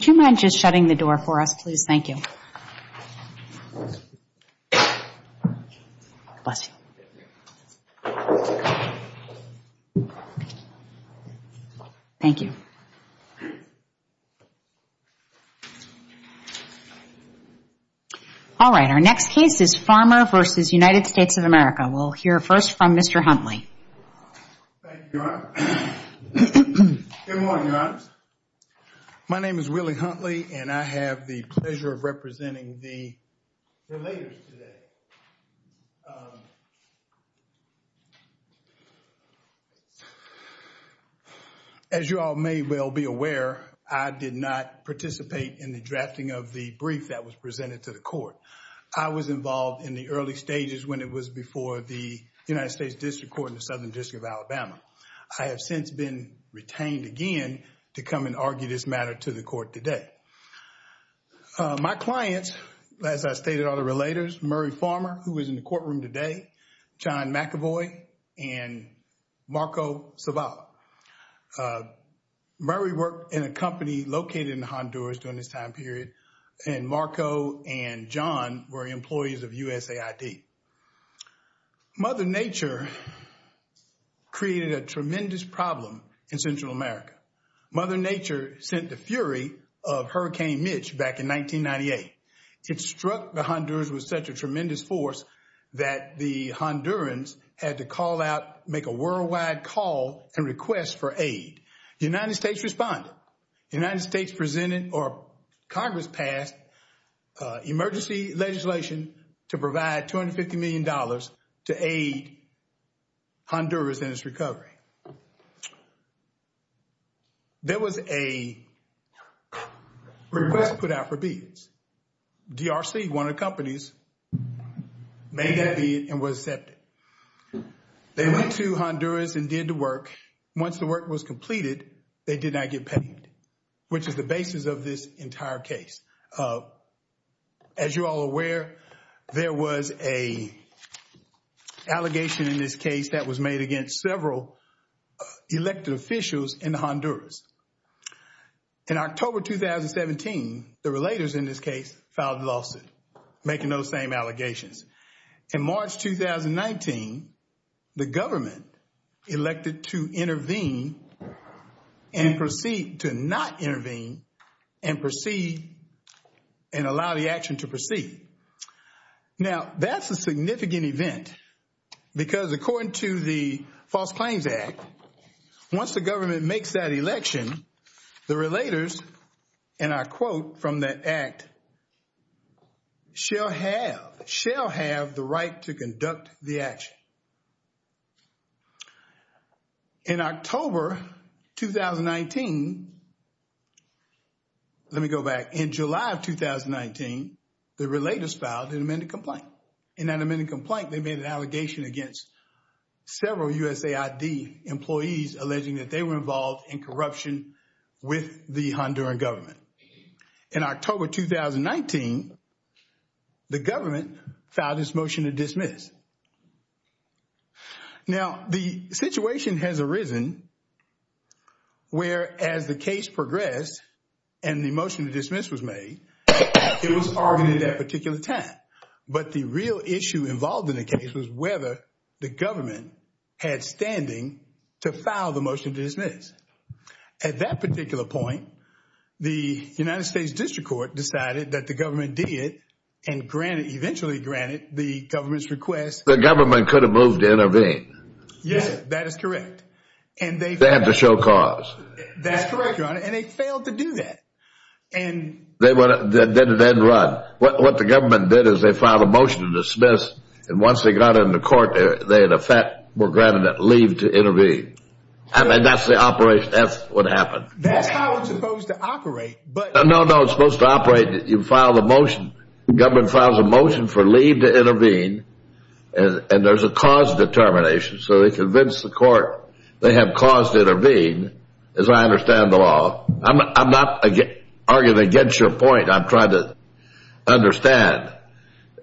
Would you mind just shutting the door for us, please? Thank you. Thank you. All right, our next case is Farmer v. United States of America. We'll hear first from Mr. Huntley. Thank you, Your Honor. Good morning, Your Honors. My name is Willie Huntley, and I have the pleasure of representing the relators today. As you all may well be aware, I did not participate in the drafting of the brief that was presented to the court. I was involved in the early stages when it was before the United States District Court in the Southern District of Alabama. I have since been retained again to come and argue this matter to the court today. My clients, as I stated, are the relators, Murray Farmer, who is in the courtroom today, John McAvoy, and Marco Zavala. Murray worked in a company located in Honduras during this time period, and Marco and John were employees of USAID. Mother Nature created a tremendous problem in Central America. Mother Nature sent the fury of Hurricane Mitch back in 1998. It struck the Hondurans with such a tremendous force that the Hondurans had to call out, make a worldwide call and request for aid. The United States responded. The Congress passed emergency legislation to provide $250 million to aid Honduras in its recovery. There was a request put out for bids. DRC, one of the companies, made that bid and was accepted. They went to Honduras and did the work. Once the work was completed, they did not get paid, which is the basis of this entire case. As you are all aware, there was an allegation in this case that was made against several elected officials in Honduras. In October 2017, the relators in this case filed a lawsuit making those same allegations. In October, they were asked to proceed to not intervene and allow the action to proceed. Now that's a significant event because according to the False Claims Act, once the government makes that election, the relators, and I quote from that act, shall have the right to conduct the action. In October 2019, let me go back, in July of 2019, the relators filed an amended complaint. In that amended complaint, they made an allegation against several USAID employees alleging that they were involved in corruption with the Honduran government. In October 2019, the government filed its motion to dismiss. Now the situation has arisen where as the case progressed and the motion to dismiss was made, it was argued at that particular time. But the real issue involved in the case was whether the government had standing to file the motion to dismiss. At that particular point, the United States District Court decided that the government did and eventually granted the government's request. The government could have moved to intervene. Yes, that is correct. They had to show cause. That's correct, Your Honor, and they failed to do that. Then it didn't run. What the government did is they filed a motion to dismiss and once they got in the court, they in effect were granted a leave to intervene. That's the operation. That's what happened. That's how it's supposed to operate. No, no, it's supposed to operate. You file the motion. The government files a motion for leave to intervene and there's a cause determination. So they convinced the court they have cause to intervene, as I understand the law. I'm not arguing against your point. I'm trying to understand.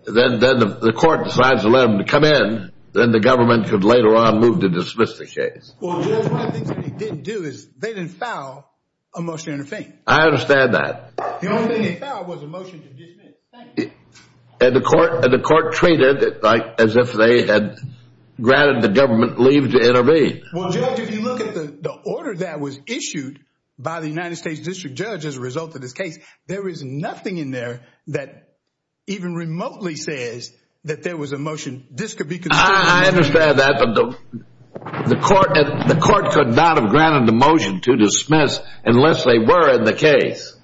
Then the court decides to let them come in. Then the government could later on move to dismiss the case. Judge, one of the things they didn't do is they didn't file a motion to intervene. I understand that. The only thing they filed was a motion to dismiss. Thank you. The court treated it as if they had granted the government leave to intervene. Judge, if you look at the order that was issued by the United States District Judge as a result of this case, there is nothing in there that even remotely says that there was a, the court could not have granted the motion to dismiss unless they were in the case.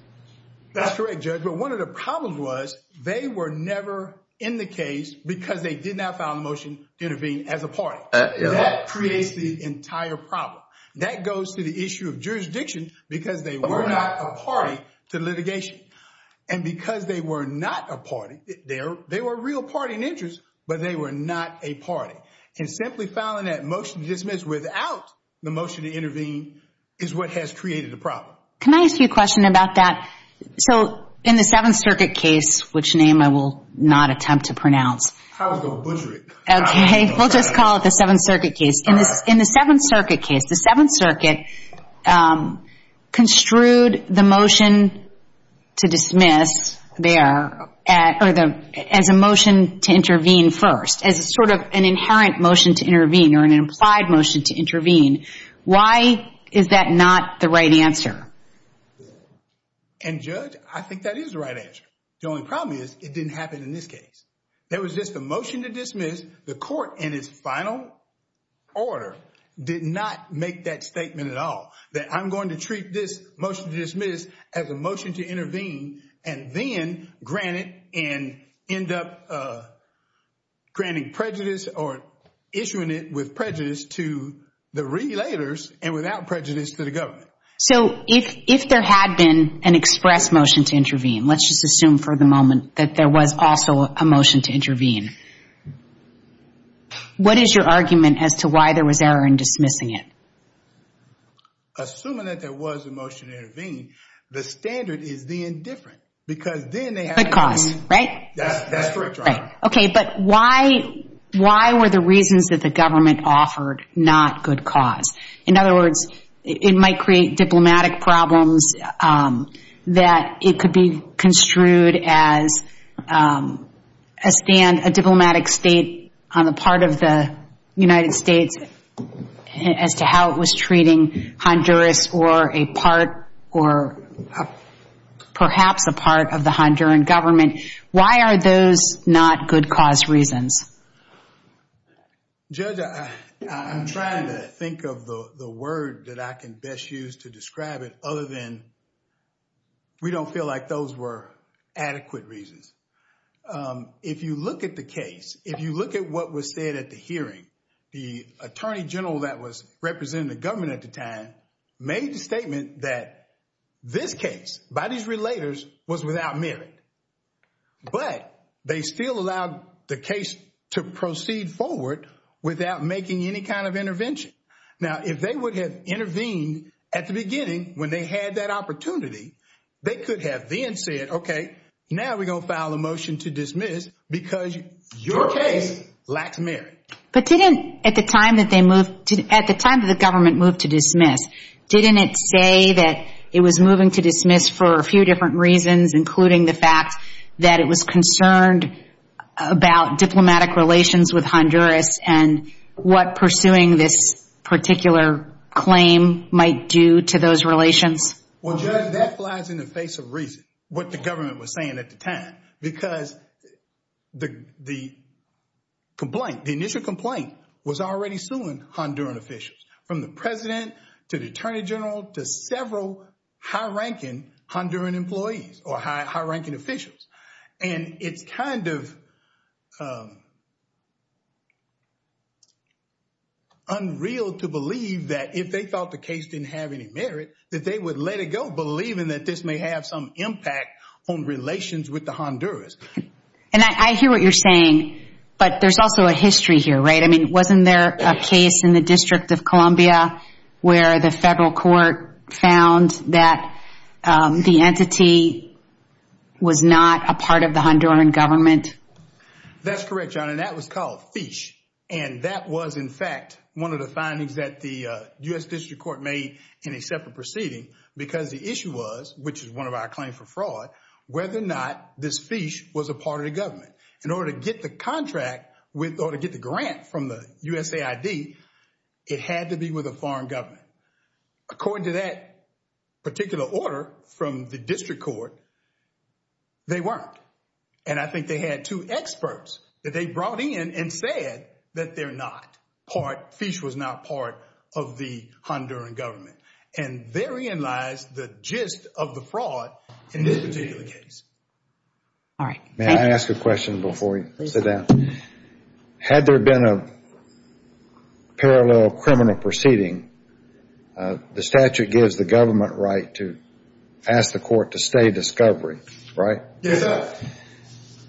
That's correct, Judge. But one of the problems was they were never in the case because they did not file a motion to intervene as a party. That creates the entire problem. That goes to the issue of jurisdiction because they were not a party to litigation. And because they were not a party, they were a real party in interest, but they were not a party. And simply filing that motion to dismiss without the motion to intervene is what has created the problem. Can I ask you a question about that? So in the Seventh Circuit case, which name I will not attempt to pronounce. I was going to butcher it. Okay, we'll just call it the Seventh Circuit case. In the Seventh Circuit case, the Seventh Circuit construed the motion to dismiss there as a motion to intervene first, as sort of an inherent motion to intervene or an implied motion to intervene. Why is that not the right answer? And Judge, I think that is the right answer. The only problem is it didn't happen in this case. There was just a motion to dismiss. The court in its final order did not make that statement at all. That I'm going to treat this motion to dismiss as a motion to intervene and then grant it and end up granting prejudice or issuing it with prejudice to the relators and without prejudice to the government. So if there had been an express motion to intervene, let's just assume for the moment that there was also a motion to intervene, what is your argument as to why there was error in dismissing it? Assuming that there was a motion to intervene, the standard is then different because then they have to- Good cause, right? That's correct, Your Honor. Okay, but why were the reasons that the government offered not good cause? In other words, it might create diplomatic problems that it could be construed as a diplomatic state on the part of the United States as to how it was treating Honduras or a part or perhaps a part of the Honduran government. Why are those not good cause reasons? Judge, I'm trying to think of the word that I can best use to describe it other than we don't feel like those were adequate reasons. If you look at the case, if you look at what was said at the hearing, the attorney general that was representing the government at the time made the statement that this case by these relators was without merit, but they still allowed the case to proceed forward without making any kind of intervention. Now, if they would have intervened at the beginning when they had that opportunity, they could have then said, now we're going to file a motion to dismiss because your case lacks merit. But at the time that the government moved to dismiss, didn't it say that it was moving to dismiss for a few different reasons, including the fact that it was concerned about diplomatic relations with Honduras and what pursuing this particular claim might do to those relations? Well, Judge, that flies in the face of reason, what the government was saying at the time, because the complaint, the initial complaint was already suing Honduran officials, from the president to the attorney general to several high-ranking Honduran employees or high-ranking officials. And it's kind of unreal to believe that if they thought the case didn't have any merit, that they would let it go, believing that this may have some impact on relations with the Honduras. And I hear what you're saying, but there's also a history here, right? I mean, wasn't there a case in the District of Columbia where the federal court found that the entity was not a part of the Honduran government? That's correct, John, and that was called FISH. And that was, in fact, one of the findings that the U.S. District Court made in a separate proceeding, because the issue was, which is one of our claims for fraud, whether or not this FISH was a part of the government. In order to get the contract or to get the grant from the USAID, it had to be with a foreign government. According to that particular order from the District Court, they weren't. And I think they had two experts that they brought in and said that they're not part, FISH was not part of the Honduran government. And therein lies the gist of the fraud in this particular case. All right. May I ask a question before we sit down? Had there been a parallel criminal proceeding, the statute gives the government right to ask the court to stay discovery, right? Yes, sir.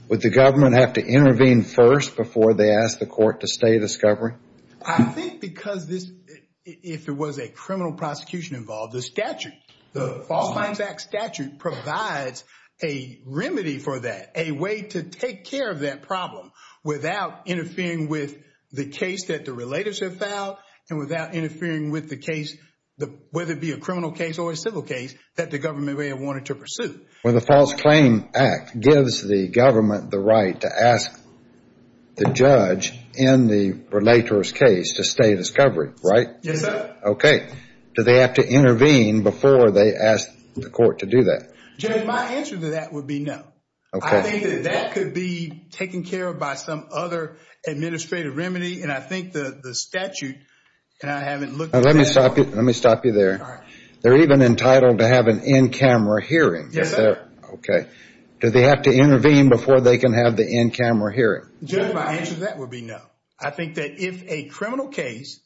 Would the government have to intervene first before they ask the court to stay discovery? I think because if there was a criminal prosecution involved, the statute, the False Claims Act statute provides a remedy for that, a way to take care of that problem without interfering with the case that the relators have filed and without interfering with the case, whether it be a criminal case or a civil case, that the government may have wanted to pursue. Well, the False Claim Act gives the government the right to ask the judge in the relator's case to stay discovery, right? Yes, sir. Okay. Do they have to intervene before they ask the court to do that? Judge, my answer to that would be no. Okay. I think that that could be taken care of by some other administrative remedy. And I think the statute, and I haven't looked at it. Let me stop you there. They're even entitled to have an in-camera hearing. Yes, sir. Okay. Do they have to intervene before they can have the in-camera hearing? Judge, my answer to that would be no. I think that if a criminal case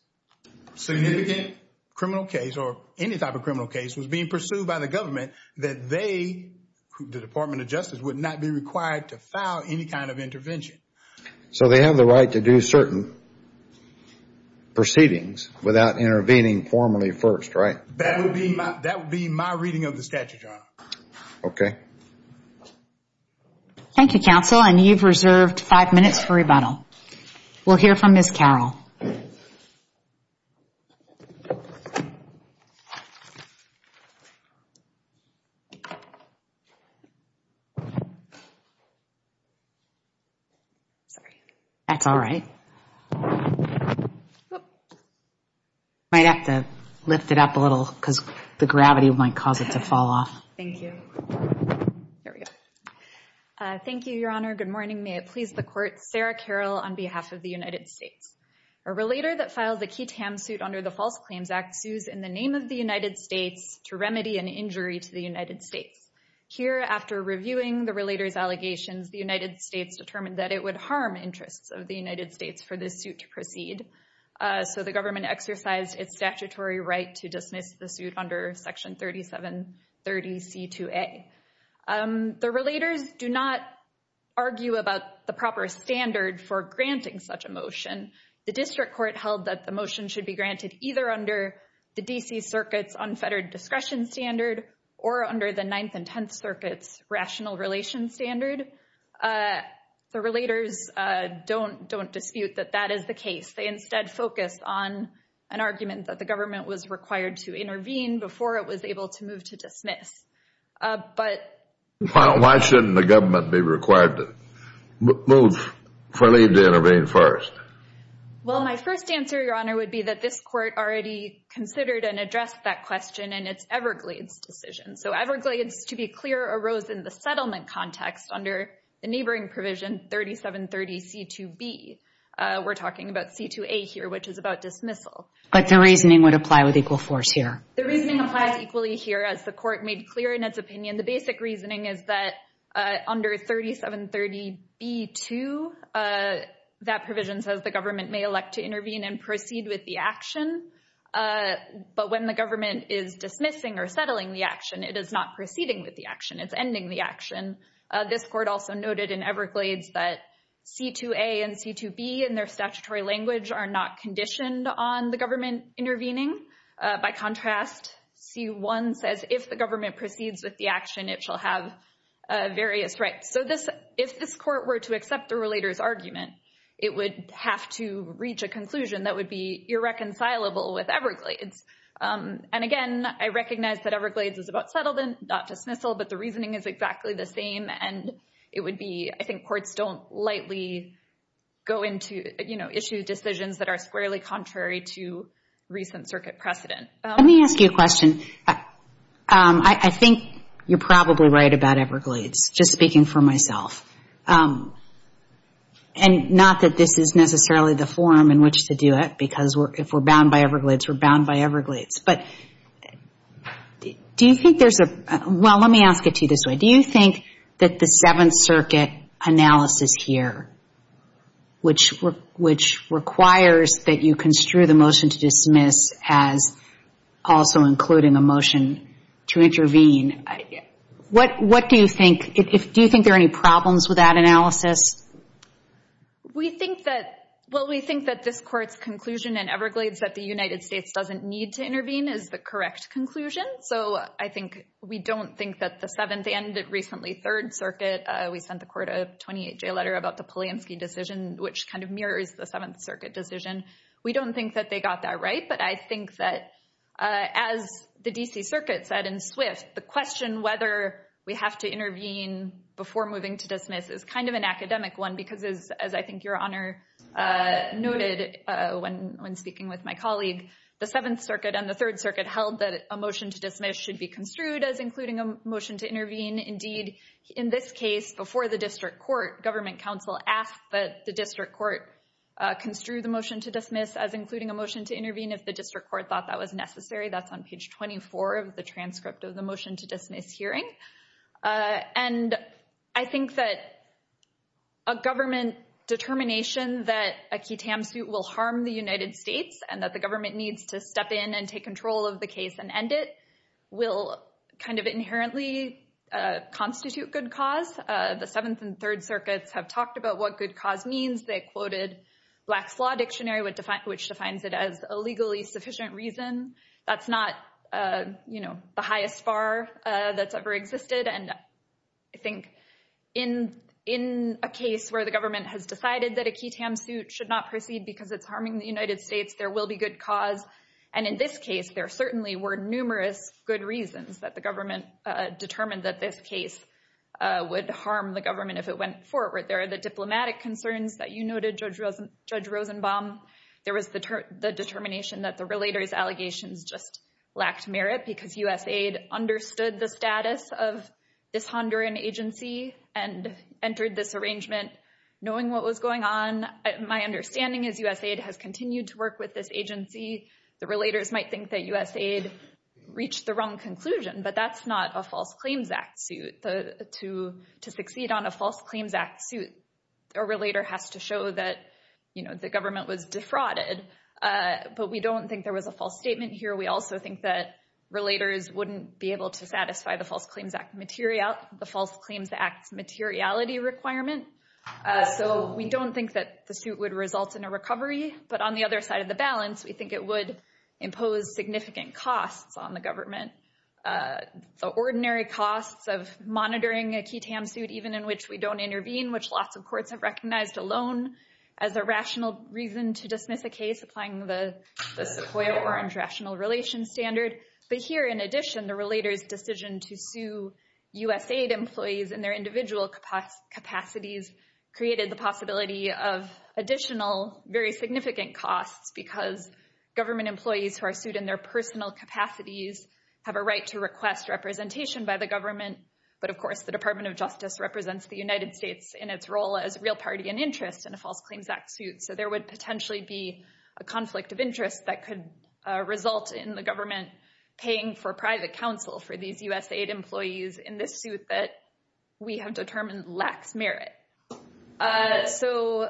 significant criminal case or any type of criminal case was being pursued by the government, that they, the Department of Justice, would not be required to file any kind of intervention. So they have the right to do certain proceedings without intervening formally first, right? That would be my reading of the statute, Your Honor. Okay. Thank you, counsel. And you've reserved five minutes for rebuttal. We'll hear from Ms. Carroll. Sorry. That's all right. Might have to lift it up a little because the gravity might cause it to fall off. Thank you. There we go. Thank you, Your Honor. Good morning. May it please the court. Sarah Carroll on behalf of the United States. A relator that filed the Ketam suit under the False Claims Act sues in the name of the United States to remedy an injury to the United States. Here, after reviewing the relator's allegations, the United States determined that it would harm interests of the United States for this suit to proceed. So the government exercised its statutory right to dismiss the suit under Section 3730C2A. The relators do not argue about the proper standard for granting such a motion. The district court held that the motion should be granted either under the D.C. Circuit's unfettered discretion standard or under the Ninth and Tenth Circuit's rational relations standard. The relators don't dispute that that is the case. They instead focus on an argument that the government was required to intervene before it was able to move to dismiss. But... Well, my first answer, Your Honor, would be that this court already considered and addressed that question in its Everglades decision. So Everglades, to be clear, arose in the settlement context under the neighboring provision 3730C2B. We're talking about C2A here, which is about dismissal. But the reasoning would apply with equal force here. The reasoning applies equally here. As the court made clear in its opinion, the basic reasoning is that under 3730B2, that provision says the government may elect to intervene and proceed with the action. But when the government is dismissing or settling the action, it is not proceeding with the action. It's ending the action. This court also noted in Everglades that C2A and C2B in their statutory language are not conditioned on the government intervening. By contrast, C1 says if the government proceeds with the action, it shall have various rights. So if this court were to accept the relator's argument, it would have to reach a conclusion that would be irreconcilable with Everglades. And again, I recognize that Everglades is about settlement, not dismissal, but the reasoning is exactly the same. And it would be... I think courts don't lightly go into issue decisions that are squarely contrary to recent circuit precedent. Let me ask you a question. I think you're probably right about Everglades, just speaking for myself. And not that this is necessarily the forum in which to do it, because if we're bound by Everglades, we're bound by Everglades. But do you think there's a... Well, let me ask it to you this way. Do you think that the Seventh Circuit analysis here, which requires that you construe the motion to dismiss as also including a motion to intervene, what do you think... Do you think there are any problems with that analysis? We think that... Well, we think that this court's conclusion in Everglades that the United States doesn't need to intervene is the correct conclusion. So I think we don't think that the Seventh and recently Third Circuit, we sent the court a 28-day letter about the Polanski decision, which kind of mirrors the Seventh Circuit decision. We don't think that they got that right. But I think that as the DC Circuit said in Swift, the question whether we have to intervene before moving to dismiss is kind of an academic one, because as I think your honor noted when speaking with my colleague, the Seventh Circuit and the Third Circuit held that a motion to dismiss should be construed as including a motion to intervene. Indeed, in this case, before the district court, government counsel asked that the district court construe the motion to dismiss as including a motion to intervene if the district court thought that was necessary. That's on page 24 of the transcript of the motion to dismiss hearing. And I think that a government determination that a QUTAM suit will harm the United States and that government needs to step in and take control of the case and end it will kind of inherently constitute good cause. The Seventh and Third Circuits have talked about what good cause means. They quoted Black's Law Dictionary, which defines it as a legally sufficient reason. That's not the highest bar that's ever existed. And I think in a case where the government has decided that a QUTAM suit should not proceed because it's harming the United States, there will be good cause. And in this case, there certainly were numerous good reasons that the government determined that this case would harm the government if it went forward. There are the diplomatic concerns that you noted, Judge Rosenbaum. There was the determination that the relator's allegations just lacked merit because USAID understood the status of this Honduran agency and entered this arrangement knowing what was going on. My understanding is USAID has agency. The relators might think that USAID reached the wrong conclusion, but that's not a False Claims Act suit. To succeed on a False Claims Act suit, a relator has to show that, you know, the government was defrauded. But we don't think there was a false statement here. We also think that relators wouldn't be able to satisfy the False Claims Act's materiality requirement. So we don't think that the suit would result in a recovery. But on the other balance, we think it would impose significant costs on the government. The ordinary costs of monitoring a key TAM suit, even in which we don't intervene, which lots of courts have recognized alone as a rational reason to dismiss a case applying the Sequoia-Orange Rational Relations Standard. But here, in addition, the relator's decision to sue USAID employees in their individual capacities created the possibility of additional, very significant costs because government employees who are sued in their personal capacities have a right to request representation by the government. But of course, the Department of Justice represents the United States in its role as a real party and interest in a False Claims Act suit. So there would potentially be a conflict of interest that could result in the government paying for private counsel for these USAID employees in this suit that we have determined lacks merit. So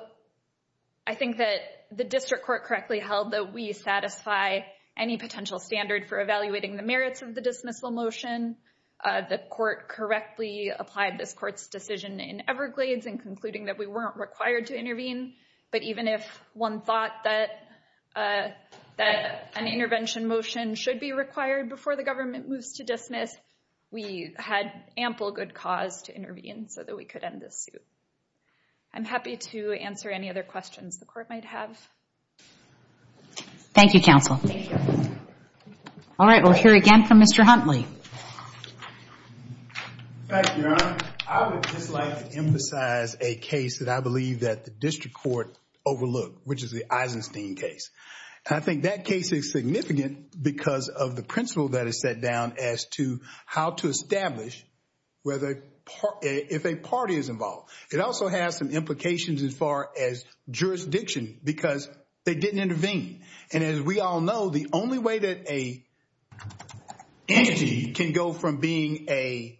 I think that the district court correctly held that we satisfy any potential standard for evaluating the merits of the dismissal motion. The court correctly applied this court's decision in Everglades in concluding that we weren't required to intervene. But even if one thought that an intervention motion should be required before the government moves to dismiss, we had ample good cause to intervene so that we could end this suit. I'm happy to answer any other questions the court might have. Thank you, counsel. All right, we'll hear again from Mr. Huntley. Thank you, Your Honor. I would just like to emphasize a case that I believe that the district court overlooked, which is the Eisenstein case. I think that case is significant because of the principle that is set down as to how to establish whether if a party is involved. It also has some implications as far as jurisdiction because they didn't intervene. And as we all know, the only way a entity can go from being a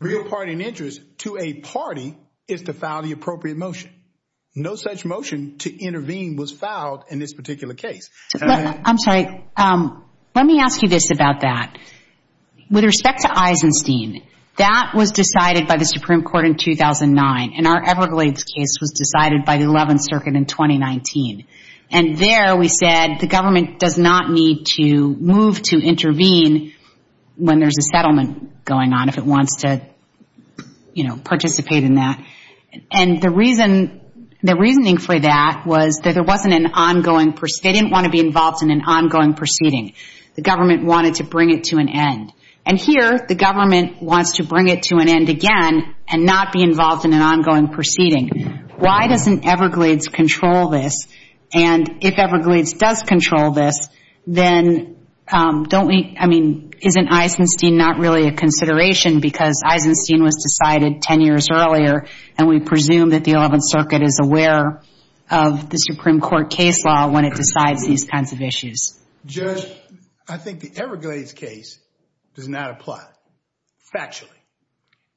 real party in interest to a party is to file the appropriate motion. No such motion to intervene was filed in this particular case. I'm sorry, let me ask you this about that. With respect to Eisenstein, that was decided by the Supreme Court in 2009, and our Everglades case was decided by the 11th Circuit in 2019. And there we said the government does not need to move to intervene when there's a settlement going on, if it wants to, you know, participate in that. And the reason, the reasoning for that was that there wasn't an ongoing, they didn't want to be involved in an ongoing proceeding. The government wanted to bring it to an end. And here the government wants to bring it to an end again and not be involved in an ongoing proceeding. Why doesn't Everglades control this? And if Everglades does control this, then don't we, I mean, isn't Eisenstein not really a consideration because Eisenstein was decided 10 years earlier and we presume that the 11th Circuit is aware of the Supreme Court case law when it decides these kinds of issues? Judge, I think the Everglades case does not apply, factually.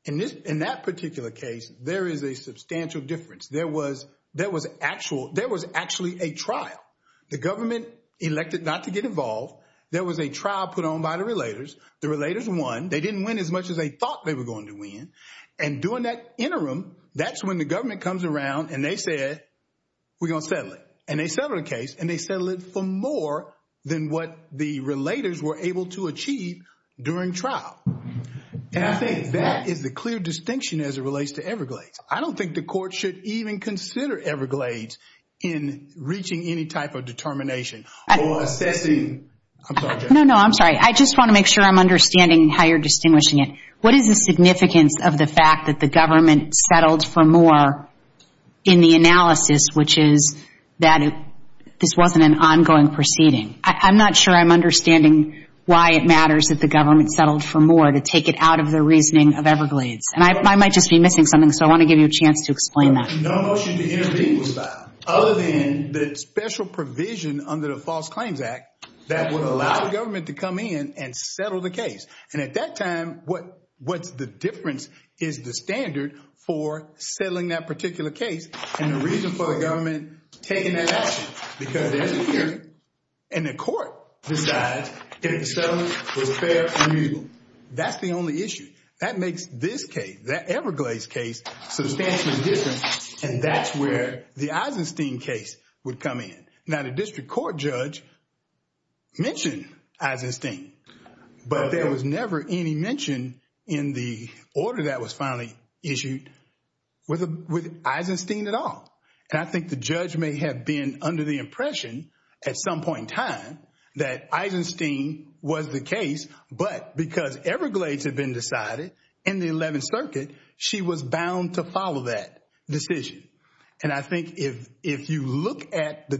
In this, in that particular case, there is a substantial difference. There was, there was actual, there was actually a trial. The government elected not to get involved. There was a trial put on by the relators. The relators won. They didn't win as much as they thought they were going to win. And during that interim, that's when the government comes around and they said, we're going to settle it. And they settled the case and they settled it for more than what the relators were able to achieve during trial. And I think that is the clear distinction as it relates to Everglades. I don't think the court should even consider Everglades in reaching any type of determination or assessing. No, no, I'm sorry. I just want to make sure I'm understanding how you're distinguishing it. What is the significance of the fact that the government settled for more in the analysis, which is that this wasn't an ongoing proceeding? I'm not sure I'm understanding why it matters that the government settled for more to take it out of the reasoning of Everglades. And I might just be missing something. So I want to give you a chance to explain that. No motion to intervene was filed other than the special provision under the False Claims Act that would allow the government to come in and settle the is the standard for settling that particular case. And the reason for the government taking that action, because there's a hearing and the court decides that the settlement was fair and reasonable. That's the only issue. That makes this case, that Everglades case, substantially different. And that's where the Eisenstein case would come in. Now the district court judge mentioned Eisenstein, but there was never any mention in the order that was finally issued with Eisenstein at all. And I think the judge may have been under the impression at some point in time that Eisenstein was the case, but because Everglades had been decided in the 11th Circuit, she was bound to follow that decision. And I think if you look at the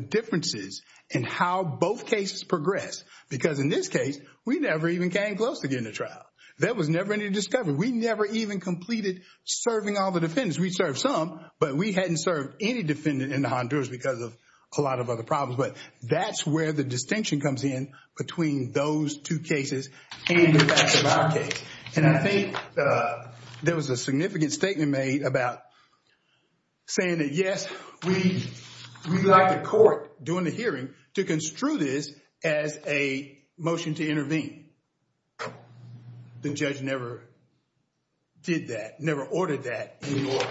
progress, because in this case, we never even came close to getting a trial. There was never any discovery. We never even completed serving all the defendants. We served some, but we hadn't served any defendant in the Honduras because of a lot of other problems. But that's where the distinction comes in between those two cases and the rest of our case. And I think there was a significant statement made about saying that, yes, we'd like the court during the hearing to construe this as a motion to intervene. The judge never did that, never ordered that in the order.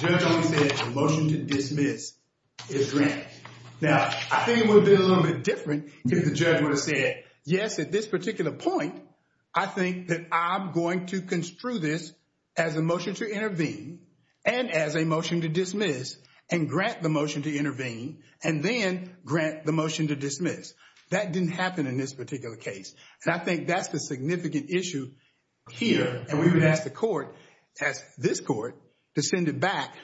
The judge only said the motion to dismiss is granted. Now I think it would have been a little bit different if the judge would have said, yes, at this particular point, I think that I'm going to construe this as a motion to intervene and as a motion to dismiss and grant the motion to intervene and then grant the motion to dismiss. That didn't happen in this particular case. And I think that's the significant issue here. And we would ask the court, ask this court to send it back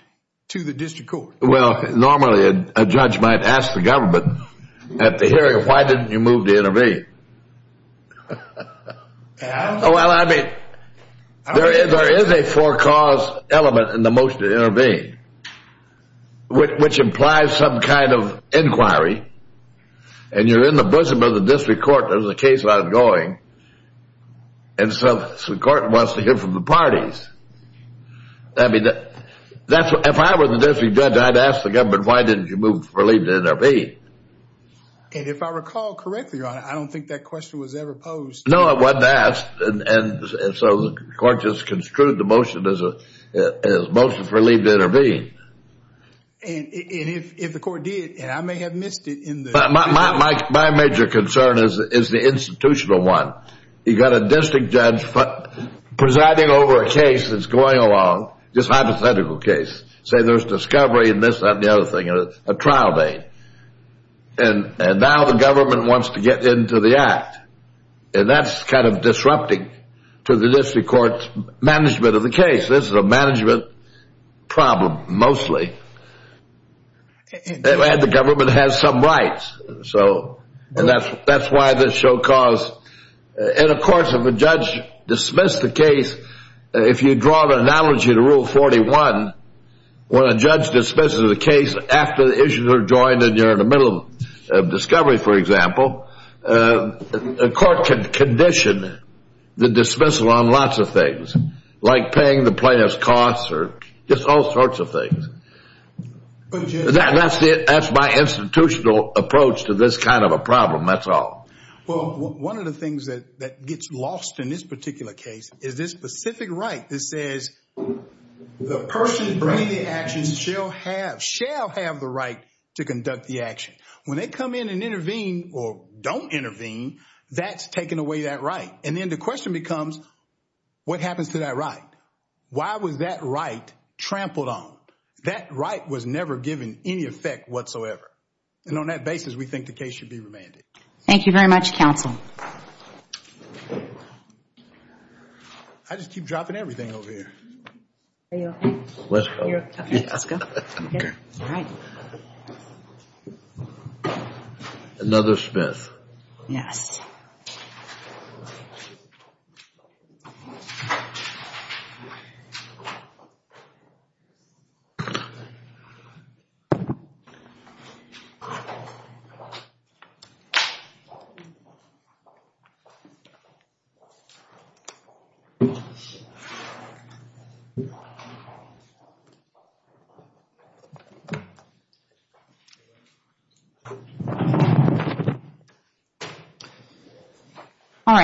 to the district court. Well, normally a judge might ask the government at the hearing, why didn't you move to intervene? Well, I mean, there is a forecaused element in the motion to intervene, which implies some kind of inquiry. And you're in the bosom of the district court. There's a case ongoing. And so the court wants to hear from the parties. I mean, if I were the district judge, I'd ask the government, why didn't you move for leave to intervene? And if I recall correctly, your honor, I don't think that question was ever posed. No, it wasn't asked. And so the court just construed the motion as a motion for leave to intervene. And if the court did, and I may have missed it. My major concern is the institutional one. You've got a district judge presiding over a case that's going along, just hypothetical case. Say there's discovery and this, that, and the other thing, a trial date. And now the government wants to get into the act. And that's kind of disrupting to the district court's management of the case. This is a management problem, mostly. And the government has some rights. So, and that's why this show cause. And of course, if a judge dismissed the case, if you draw the analogy to Rule 41, when a judge dismisses a case after the issues are joined and you're in the middle of discovery, for example, a court can condition the dismissal on lots of things, like paying the plaintiff's costs or just all sorts of things. That's my institutional approach to this kind of a problem. That's all. Well, one of the things that gets lost in this particular case is this specific right that says the person bringing the actions shall have, shall have the right to conduct the action. When they come in and intervene or don't intervene, that's taken away that right. And then the question becomes, what happens to that right? Why was that right trampled on? That right was never given any effect whatsoever. And on that basis, we think the case should be remanded. Thank you very much, counsel. I just keep dropping everything over here. Another Smith. Yes. So. All right.